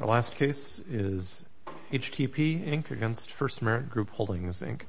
Our last case is HTP, Inc. v. First Merit Group Holdings, Inc.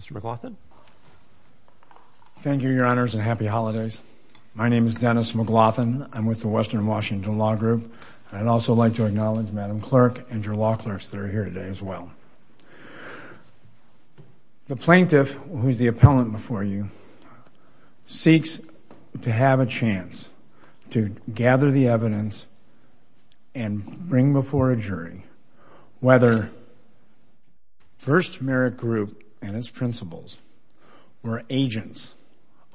Mr. McLaughlin Thank you, Your Honors, and happy holidays. My name is Dennis McLaughlin. I'm with the Western Washington Law Group, and I'd also like to acknowledge Madam Clerk and your law clerks that are here today as well. The plaintiff, who is the appellant before you, seeks to have a chance to gather the evidence and bring before a jury whether First Merit Group and its principals were agents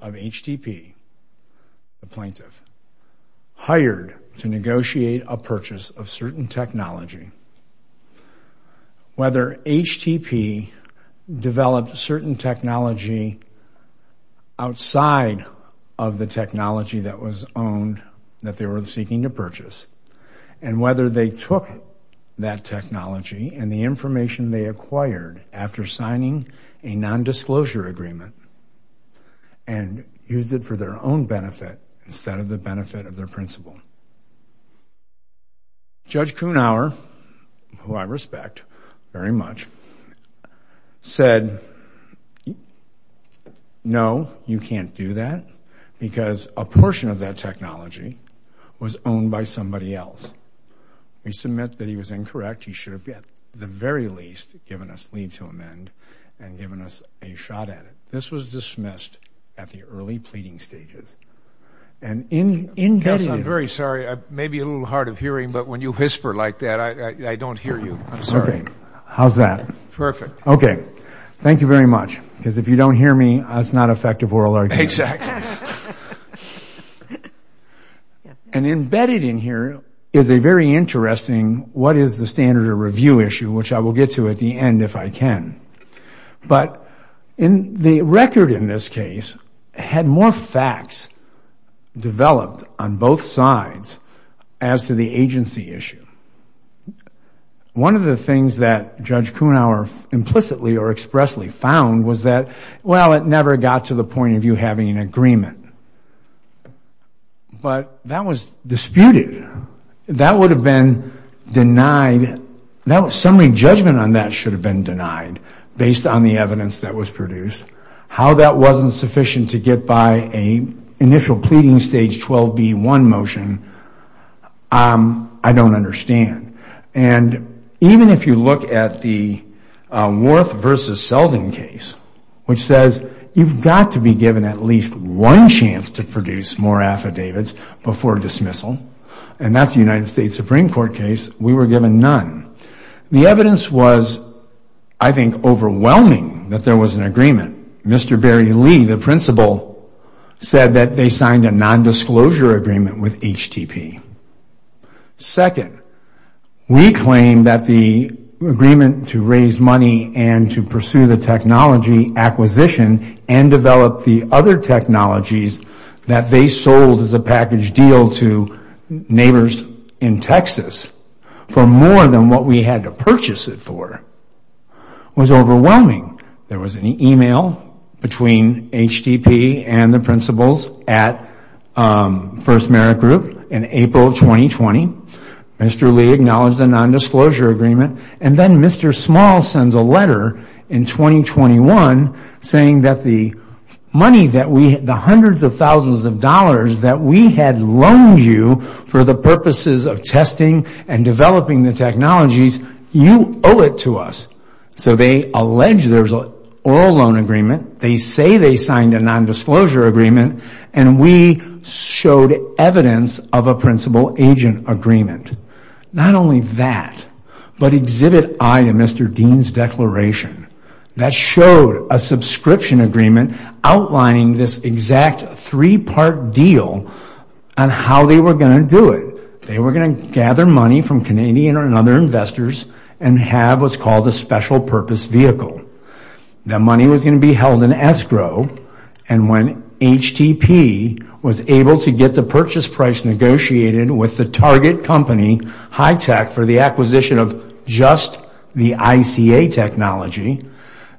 of HTP, the plaintiff, hired to negotiate a purchase of certain technology. Whether HTP developed certain technology outside of the technology that was owned, that they were seeking to purchase, and whether they took that technology and the information they used it for their own benefit instead of the benefit of their principal. Judge Kuhnhauer, who I respect very much, said, no, you can't do that because a portion of that technology was owned by somebody else. We submit that he was incorrect. He should have, at the very least, given us leave to amend and given us a shot at it. This was dismissed at the early pleading stages. And embedded in... Counsel, I'm very sorry. It may be a little hard of hearing, but when you whisper like that, I don't hear you. I'm sorry. How's that? Perfect. Okay. Thank you very much, because if you don't hear me, it's not effective oral argument. Exactly. And embedded in here is a very interesting what is the standard of review issue, which I will get to at the end if I can. But the record in this case had more facts developed on both sides as to the agency issue. One of the things that Judge Kuhnhauer implicitly or expressly found was that, well, it never got to the point of you having an agreement. But that was disputed. That would have been denied. Summary judgment on that should have been denied based on the evidence that was produced. How that wasn't sufficient to get by an initial pleading stage 12B1 motion, I don't understand. And even if you look at the Worth v. Selden case, which says you've got to be given at least one chance to produce more affidavits before dismissal, and that's the United States Supreme Court case, we were given none. The evidence was, I think, overwhelming that there was an agreement. Mr. Barry Lee, the principal, said that they signed a nondisclosure agreement with HTTP. Second, we claim that the agreement to raise money and to pursue the technology acquisition and develop the other technologies that they sold as a package deal to neighbors in Texas for more than what we had to purchase it for was overwhelming. There was an email between HTTP and the principals at First Merit Group in April of 2020. Mr. Lee acknowledged the nondisclosure agreement. And then Mr. Small sends a letter in 2021 saying that the hundreds of thousands of dollars that we had loaned you for the purposes of testing and developing the technologies, you owe it to us. So they allege there was an oral loan agreement. They say they signed a nondisclosure agreement. And we showed evidence of a principal-agent agreement. Not only that, but exhibit I to Mr. Dean's declaration. That showed a subscription agreement outlining this exact three-part deal on how they were going to do it. They were going to gather money from Canadian and other investors and have what's called a special purpose vehicle. The money was going to be held in escrow. And when HTTP was able to get the purchase price negotiated with the target company, Hitech, for the acquisition of just the ICA technology,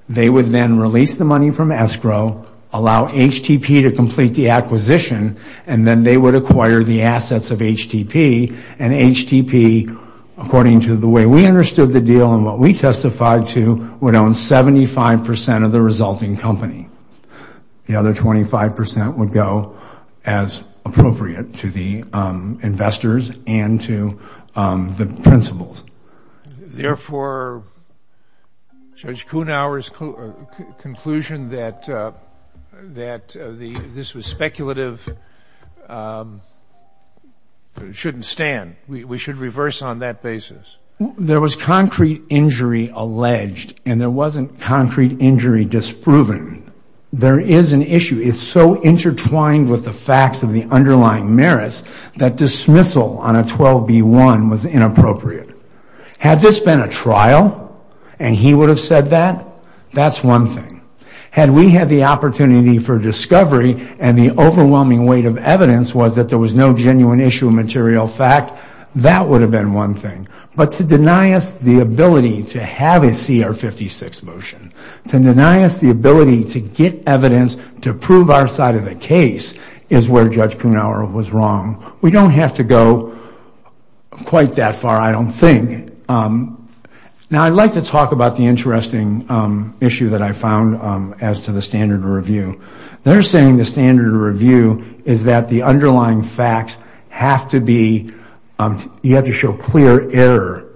they would then release the money from escrow, allow HTTP to complete the acquisition, and then they would acquire the assets of HTTP. And HTTP, according to the way we understood the deal and what we testified to, would own 75% of the resulting company. The other 25% would go as appropriate to the investors and to the principals. Therefore, Judge Kuhnhauer's conclusion that this was speculative shouldn't stand. We should reverse on that basis. There was concrete injury alleged, and there wasn't concrete injury disproven. There is an issue. It's so intertwined with the facts of the underlying merits that dismissal on a 12B1 was inappropriate. Had this been a trial and he would have said that, that's one thing. Had we had the opportunity for discovery and the overwhelming weight of evidence was that there was no genuine issue of material fact, that would have been one thing. But to deny us the ability to have a CR 56 motion, to deny us the ability to get evidence to prove our side of the case, is where Judge Kuhnhauer was wrong. We don't have to go quite that far, I don't think. Now, I'd like to talk about the interesting issue that I found as to the standard of review. They're saying the standard of review is that the underlying facts have to be, you have to show clear error.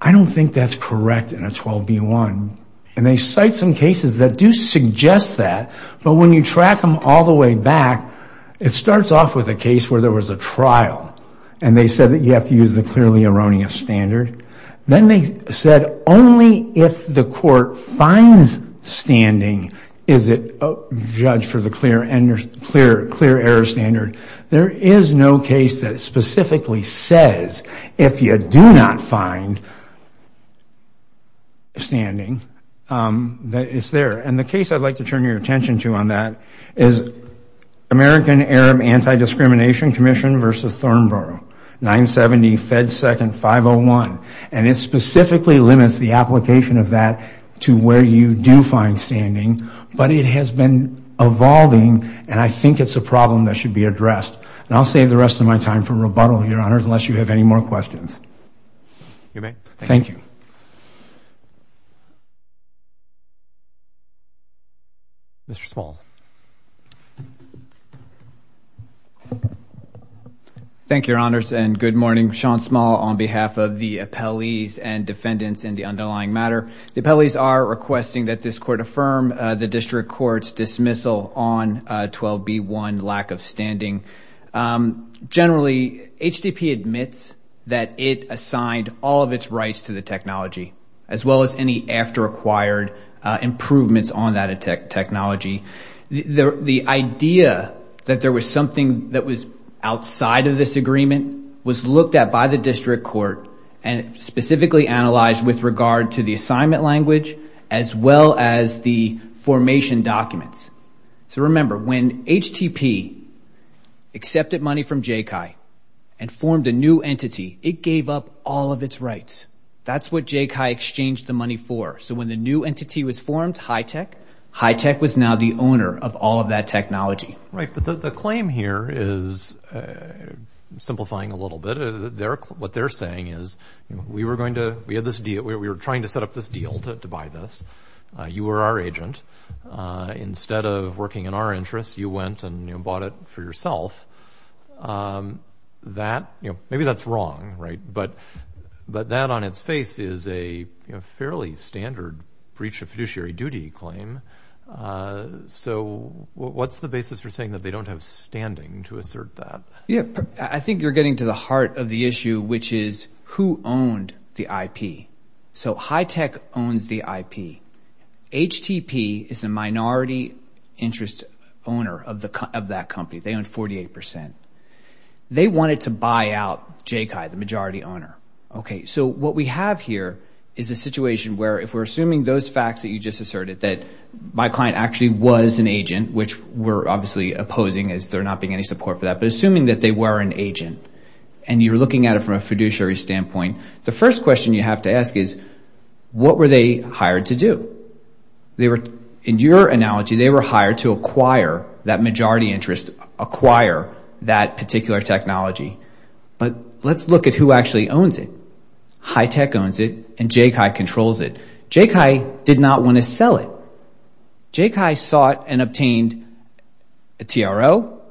I don't think that's correct in a 12B1. And they cite some cases that do suggest that, but when you track them all the way back, it starts off with a case where there was a trial, and they said that you have to use the clearly erroneous standard. Then they said only if the court finds standing is it judged for the clear error standard. There is no case that specifically says, if you do not find standing, that it's there. And the case I'd like to turn your attention to on that is American Arab Anti-Discrimination Commission versus Thornborough, 970 Fed Second 501. And it specifically limits the application of that to where you do find standing. But it has been evolving, and I think it's a problem that should be addressed. And I'll save the rest of my time for rebuttal, Your Honors, unless you have any more questions. You may. Thank you. Mr. Small. Thank you, Your Honors, and good morning. Sean Small on behalf of the appellees and defendants in the underlying matter. The appellees are requesting that this court affirm the district court's dismissal on 12B1, lack of standing. Generally, HDP admits that it assigned all of its rights to the technology, as well as any after-acquired improvements on that technology. The idea that there was something that was outside of this agreement was looked at by the district court and specifically analyzed with regard to the assignment language, as well as the formation documents. So remember, when HDP accepted money from JECI and formed a new entity, it gave up all of its rights. That's what JECI exchanged the money for. So when the new entity was formed, HITECH, HITECH was now the owner of all of that technology. Right, but the claim here is, simplifying a little bit, what they're saying is, we were trying to set up this deal to buy this. You were our agent. Instead of working in our interest, you went and bought it for yourself. Maybe that's wrong, right? But that on its face is a fairly standard breach of fiduciary duty claim. So what's the basis for saying that they don't have standing to assert that? Yeah, I think you're getting to the heart of the issue, which is, who owned the IP? So HITECH owns the IP. HTP is the minority interest owner of that company. They own 48%. They wanted to buy out JECI, the majority owner. Okay, so what we have here is a situation where, if we're assuming those facts that you just asserted, that my client actually was an agent, which we're obviously opposing as there not being any support for that, but assuming that they were an agent, and you're looking at it from a fiduciary standpoint, the first question you have to ask is, what were they hired to do? In your analogy, they were hired to acquire that majority interest, acquire that particular technology. But let's look at who actually owns it. HITECH owns it, and JECI controls it. JECI did not want to sell it. JECI sought and obtained a TRO,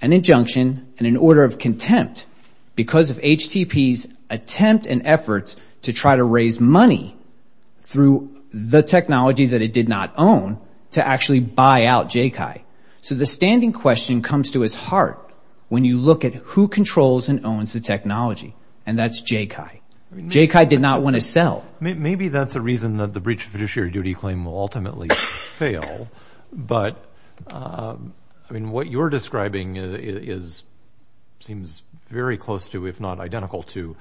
an injunction, and an order of contempt because of HTP's attempt and efforts to try to raise money through the technology that it did not own to actually buy out JECI. So the standing question comes to its heart when you look at who controls and owns the technology, and that's JECI. JECI did not want to sell. Maybe that's a reason that the breach of fiduciary duty claim will ultimately fail, but what you're describing seems very close to, if not identical to,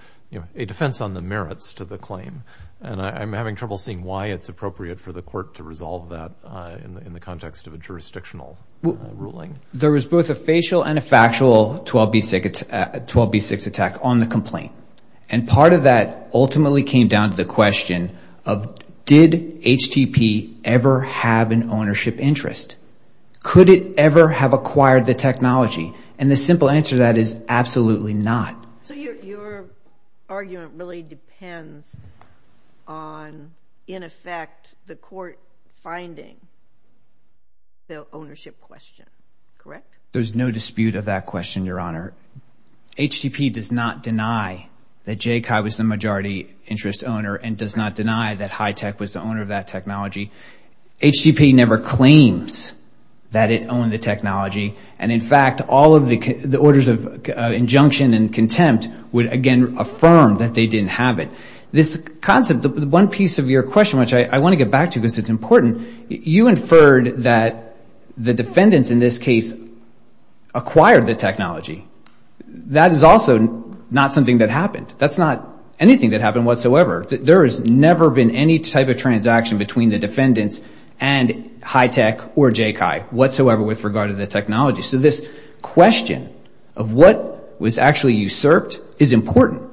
a defense on the merits to the claim. And I'm having trouble seeing why it's appropriate for the court to resolve that in the context of a jurisdictional ruling. There was both a facial and a factual 12b6 attack on the complaint. And part of that ultimately came down to the question of, did HTP ever have an ownership interest? Could it ever have acquired the technology? And the simple answer to that is absolutely not. So your argument really depends on, in effect, the court finding the ownership question, correct? There's no dispute of that question, Your Honor. HTP does not deny that JECI was the majority interest owner and does not deny that HITECH was the owner of that technology. HTP never claims that it owned the technology. And in fact, all of the orders of injunction and contempt would, again, affirm that they didn't have it. This concept, the one piece of your question, which I want to get back to because it's important, you inferred that the defendants in this case acquired the technology. That is also not something that happened. That's not anything that happened whatsoever. There has never been any type of transaction between the defendants and HITECH or JECI whatsoever with regard to the technology. So this question of what was actually usurped is important.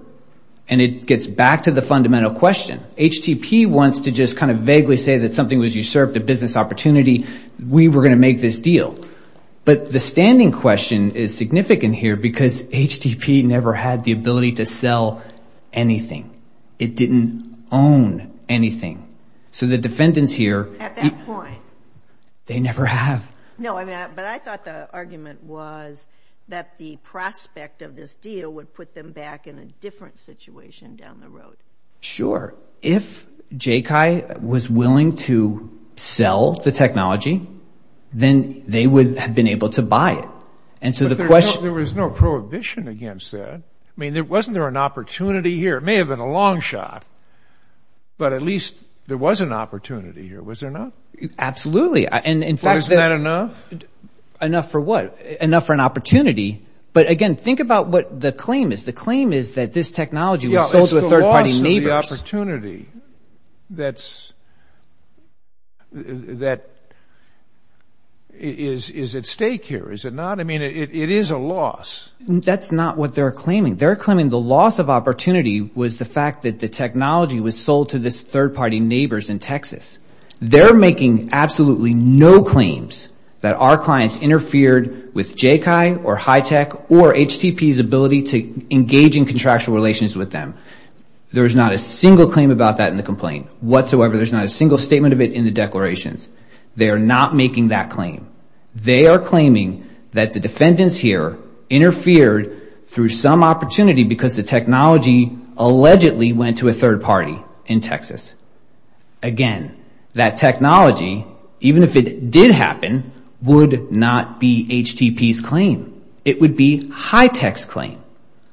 And it gets back to the fundamental question. HTP wants to just kind of vaguely say that something was usurped, a business opportunity, we were going to make this deal. But the standing question is significant here because HTP never had the ability to sell anything. It didn't own anything. So the defendants here... At that point. They never have. No, but I thought the argument was that the prospect of this deal would put them back in a different situation down the road. Sure. If JECI was willing to sell the technology, then they would have been able to buy it. And so the question... There was no prohibition against that. I mean, wasn't there an opportunity here? It may have been a long shot, but at least there was an opportunity here. Was there not? Absolutely. And in fact... Isn't that enough? Enough for what? Enough for an opportunity. But again, think about what the claim is. The claim is that this technology was sold to third-party neighbors. It's the loss of the opportunity that's... that is at stake here, is it not? I mean, it is a loss. That's not what they're claiming. They're claiming the loss of opportunity was the fact that the technology was sold to this third-party neighbors in Texas. They're making absolutely no claims that our clients interfered with JECI or HITECH or HTP's ability to engage in contractual relations with them. There is not a single claim about that in the complaint whatsoever. There's not a single statement of it in the declarations. They are not making that claim. They are claiming that the defendants here interfered through some opportunity because the technology allegedly went to a third-party in Texas. Again, that technology, even if it did happen, would not be HTP's claim. It would be HITECH's claim.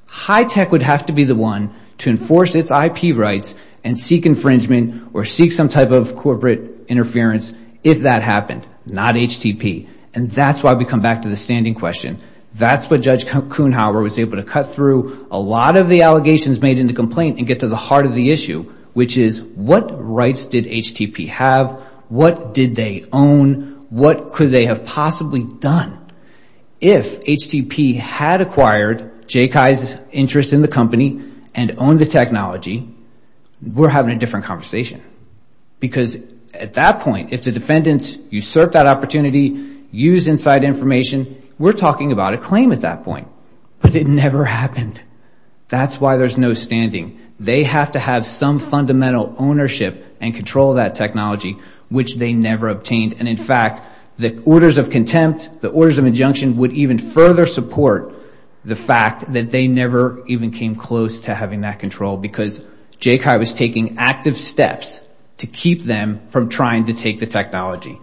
HITECH would have to be the one to enforce its IP rights and seek infringement or seek some type of corporate interference if that happened, not HTP. And that's why we come back to the standing question. That's what Judge Kuhnhauer was able to cut through a lot of the allegations made in the complaint and get to the heart of the issue, which is what rights did HTP have? What did they own? What could they have possibly done? If HTP had acquired JECI's interest in the company and owned the technology, we're having a different conversation. Because at that point, if the defendants usurped that opportunity, used inside information, we're talking about a claim at that point. But it never happened. That's why there's no standing. They have to have some fundamental ownership and control of that technology, which they never obtained. And in fact, the orders of contempt, the orders of injunction would even further support the fact that they never even came close to having that control because JECI was taking active steps to keep them from trying to take the technology.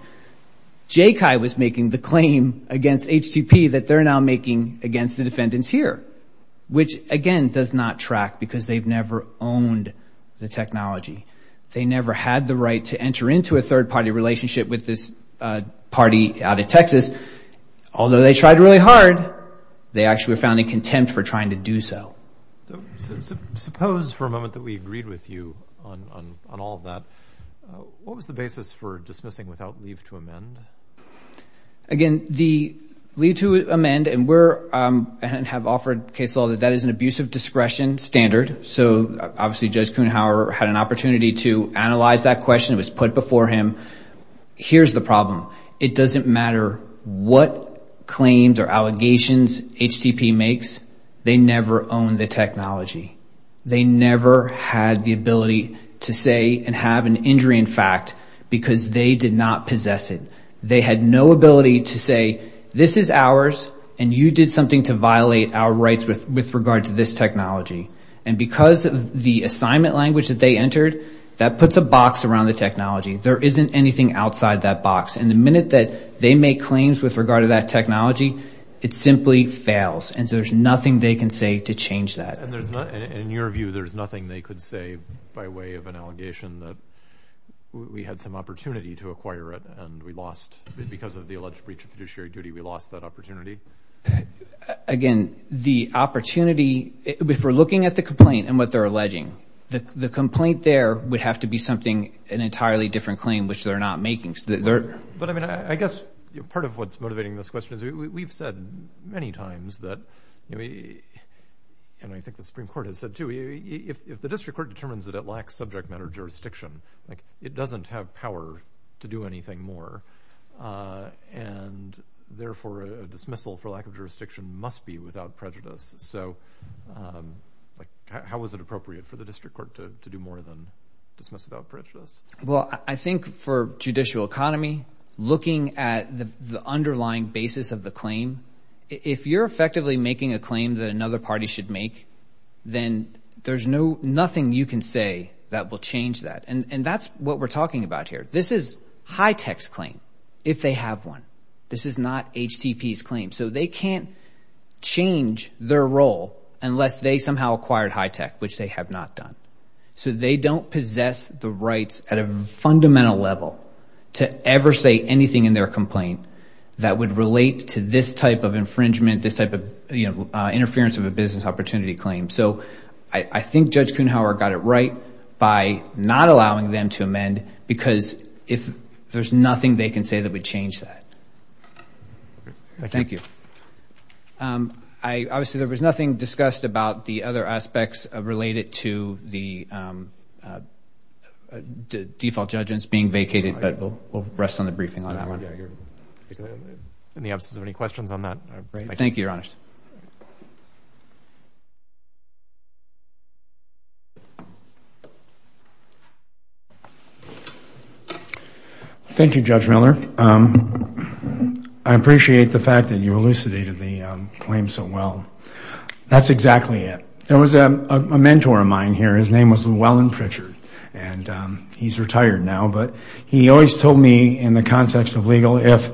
JECI was making the claim against HTP that they're now making against the defendants here, which, again, does not track because they've never owned the technology. They never had the right to enter into a third-party relationship with this party out of Texas. Although they tried really hard, they actually were found in contempt for trying to do so. So suppose for a moment that we agreed with you on all of that. What was the basis for dismissing without leave to amend? Again, the leave to amend, and we're... and have offered case law that that is an abusive discretion standard. So obviously, Judge Kuhnhauer had an opportunity to analyze that question. It was put before him. Here's the problem. It doesn't matter what claims or allegations HTP makes. They never owned the technology. They never had the ability to say and have an injury in fact because they did not possess it. They had no ability to say, this is ours and you did something to violate our rights with regard to this technology. And because of the assignment language that they entered, that puts a box around the technology. There isn't anything outside that box. And the minute that they make claims with regard to that technology, it simply fails. And so there's nothing they can say to change that. And in your view, there's nothing they could say by way of an allegation that we had some opportunity to acquire it and we lost because of the alleged breach of fiduciary duty, we lost that opportunity? Again, the opportunity, if we're looking at the complaint and what they're alleging, the complaint there would have to be something, an entirely different claim, which they're not making. But I mean, I guess part of what's motivating this question is we've said many times that, and I think the Supreme Court has said too, if the district court determines that it lacks subject matter jurisdiction, it doesn't have power to do anything more. And therefore, a dismissal for lack of jurisdiction must be without prejudice. So how is it appropriate for the district court to do more than dismiss without prejudice? Well, I think for judicial economy, looking at the underlying basis of the claim, if you're effectively making a claim that another party should make, then there's nothing you can say that will change that. And that's what we're talking about here. This is HITECH's claim, if they have one. This is not HTP's claim. So they can't change their role unless they somehow acquired HITECH, which they have not done. So they don't possess the rights at a fundamental level to ever say anything in their complaint that would relate to this type of infringement, this type of interference of a business opportunity claim. So I think Judge Kuhnhauer got it right by not allowing them to amend because if there's nothing they can say that would change that. Thank you. Obviously, there was nothing discussed about the other aspects related to the default judgments being vacated, but we'll rest on the briefing on that one. In the absence of any questions on that, I'd like to... Thank you, Your Honor. Thank you, Judge Miller. I appreciate the fact that you elucidated the claim so well. That's exactly it. There was a mentor of mine here. His name was Llewellyn Pritchard, and he's retired now, but he always told me in the context of legal, if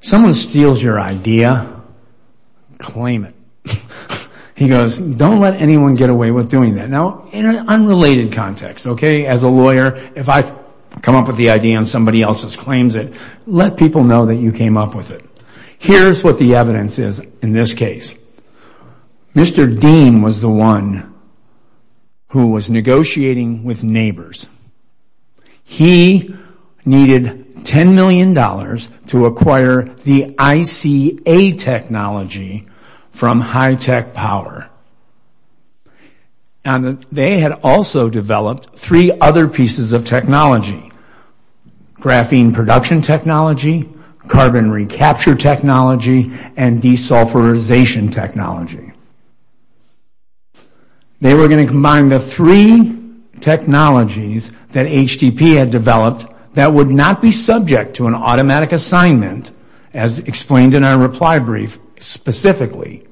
someone steals your idea, claim it. He goes, don't let anyone get away with doing that. Now, in an unrelated context, as a lawyer, if I come up with the idea and somebody else claims it, let people know that you came up with it. Here's what the evidence is in this case. Mr. Dean was the one who was negotiating with neighbors. He needed $10 million to acquire the ICA technology from high-tech power. And they had also developed three other pieces of technology, graphene production technology, carbon recapture technology, and desulfurization technology. They were going to combine the three technologies that HDP had developed that would not be subject to an automatic assignment, as explained in our reply brief specifically.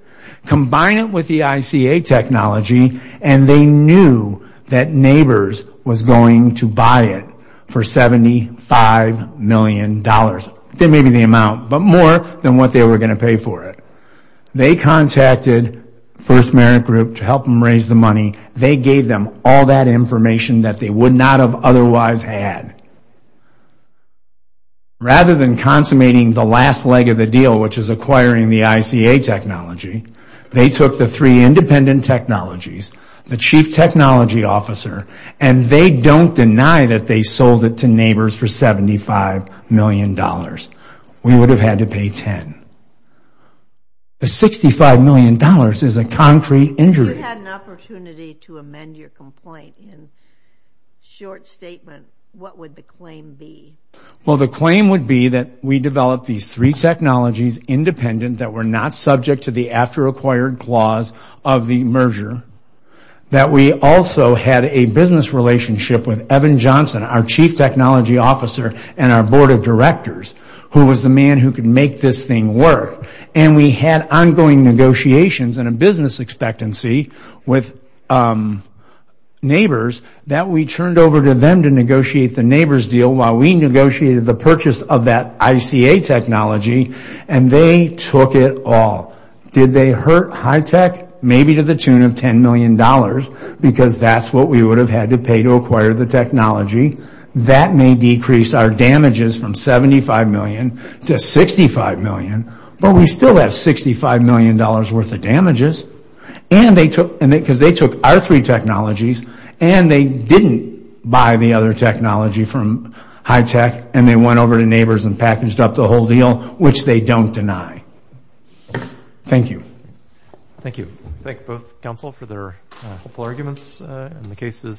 Combine it with the ICA technology, and they knew that neighbors was going to buy it for $75 million. That may be the amount, but more than what they were going to pay for it. They contacted First Merit Group to help them raise the money. They gave them all that information that they would not have otherwise had. Rather than consummating the last leg of the deal, which is acquiring the ICA technology, they took the three independent technologies, the chief technology officer, and they don't deny that they sold it to neighbors for $75 million. We would have had to pay $10. The $65 million is a concrete injury. If you had an opportunity to amend your complaint in short statement, what would the claim be? Well, the claim would be that we developed these three technologies independent, that were not subject to the after-acquired clause of the merger, that we also had a business relationship with Evan Johnson, our chief technology officer and our board of directors, who was the man who could make this thing work. And we had ongoing negotiations and a business expectancy with neighbors that we turned over to them to negotiate the neighbors deal while we negotiated the purchase of that ICA technology. And they took it all. Did they hurt high tech? Maybe to the tune of $10 million, because that's what we would have had to pay to acquire the technology. That may decrease our damages from $75 million to $65 million. But we still have $65 million worth of damages, because they took our three technologies, and they didn't buy the other technology from high tech. And they went over to neighbors and packaged up the whole deal, which they don't deny. Thank you. Thank you. Thank both counsel for their hopeful arguments. And the case is submitted.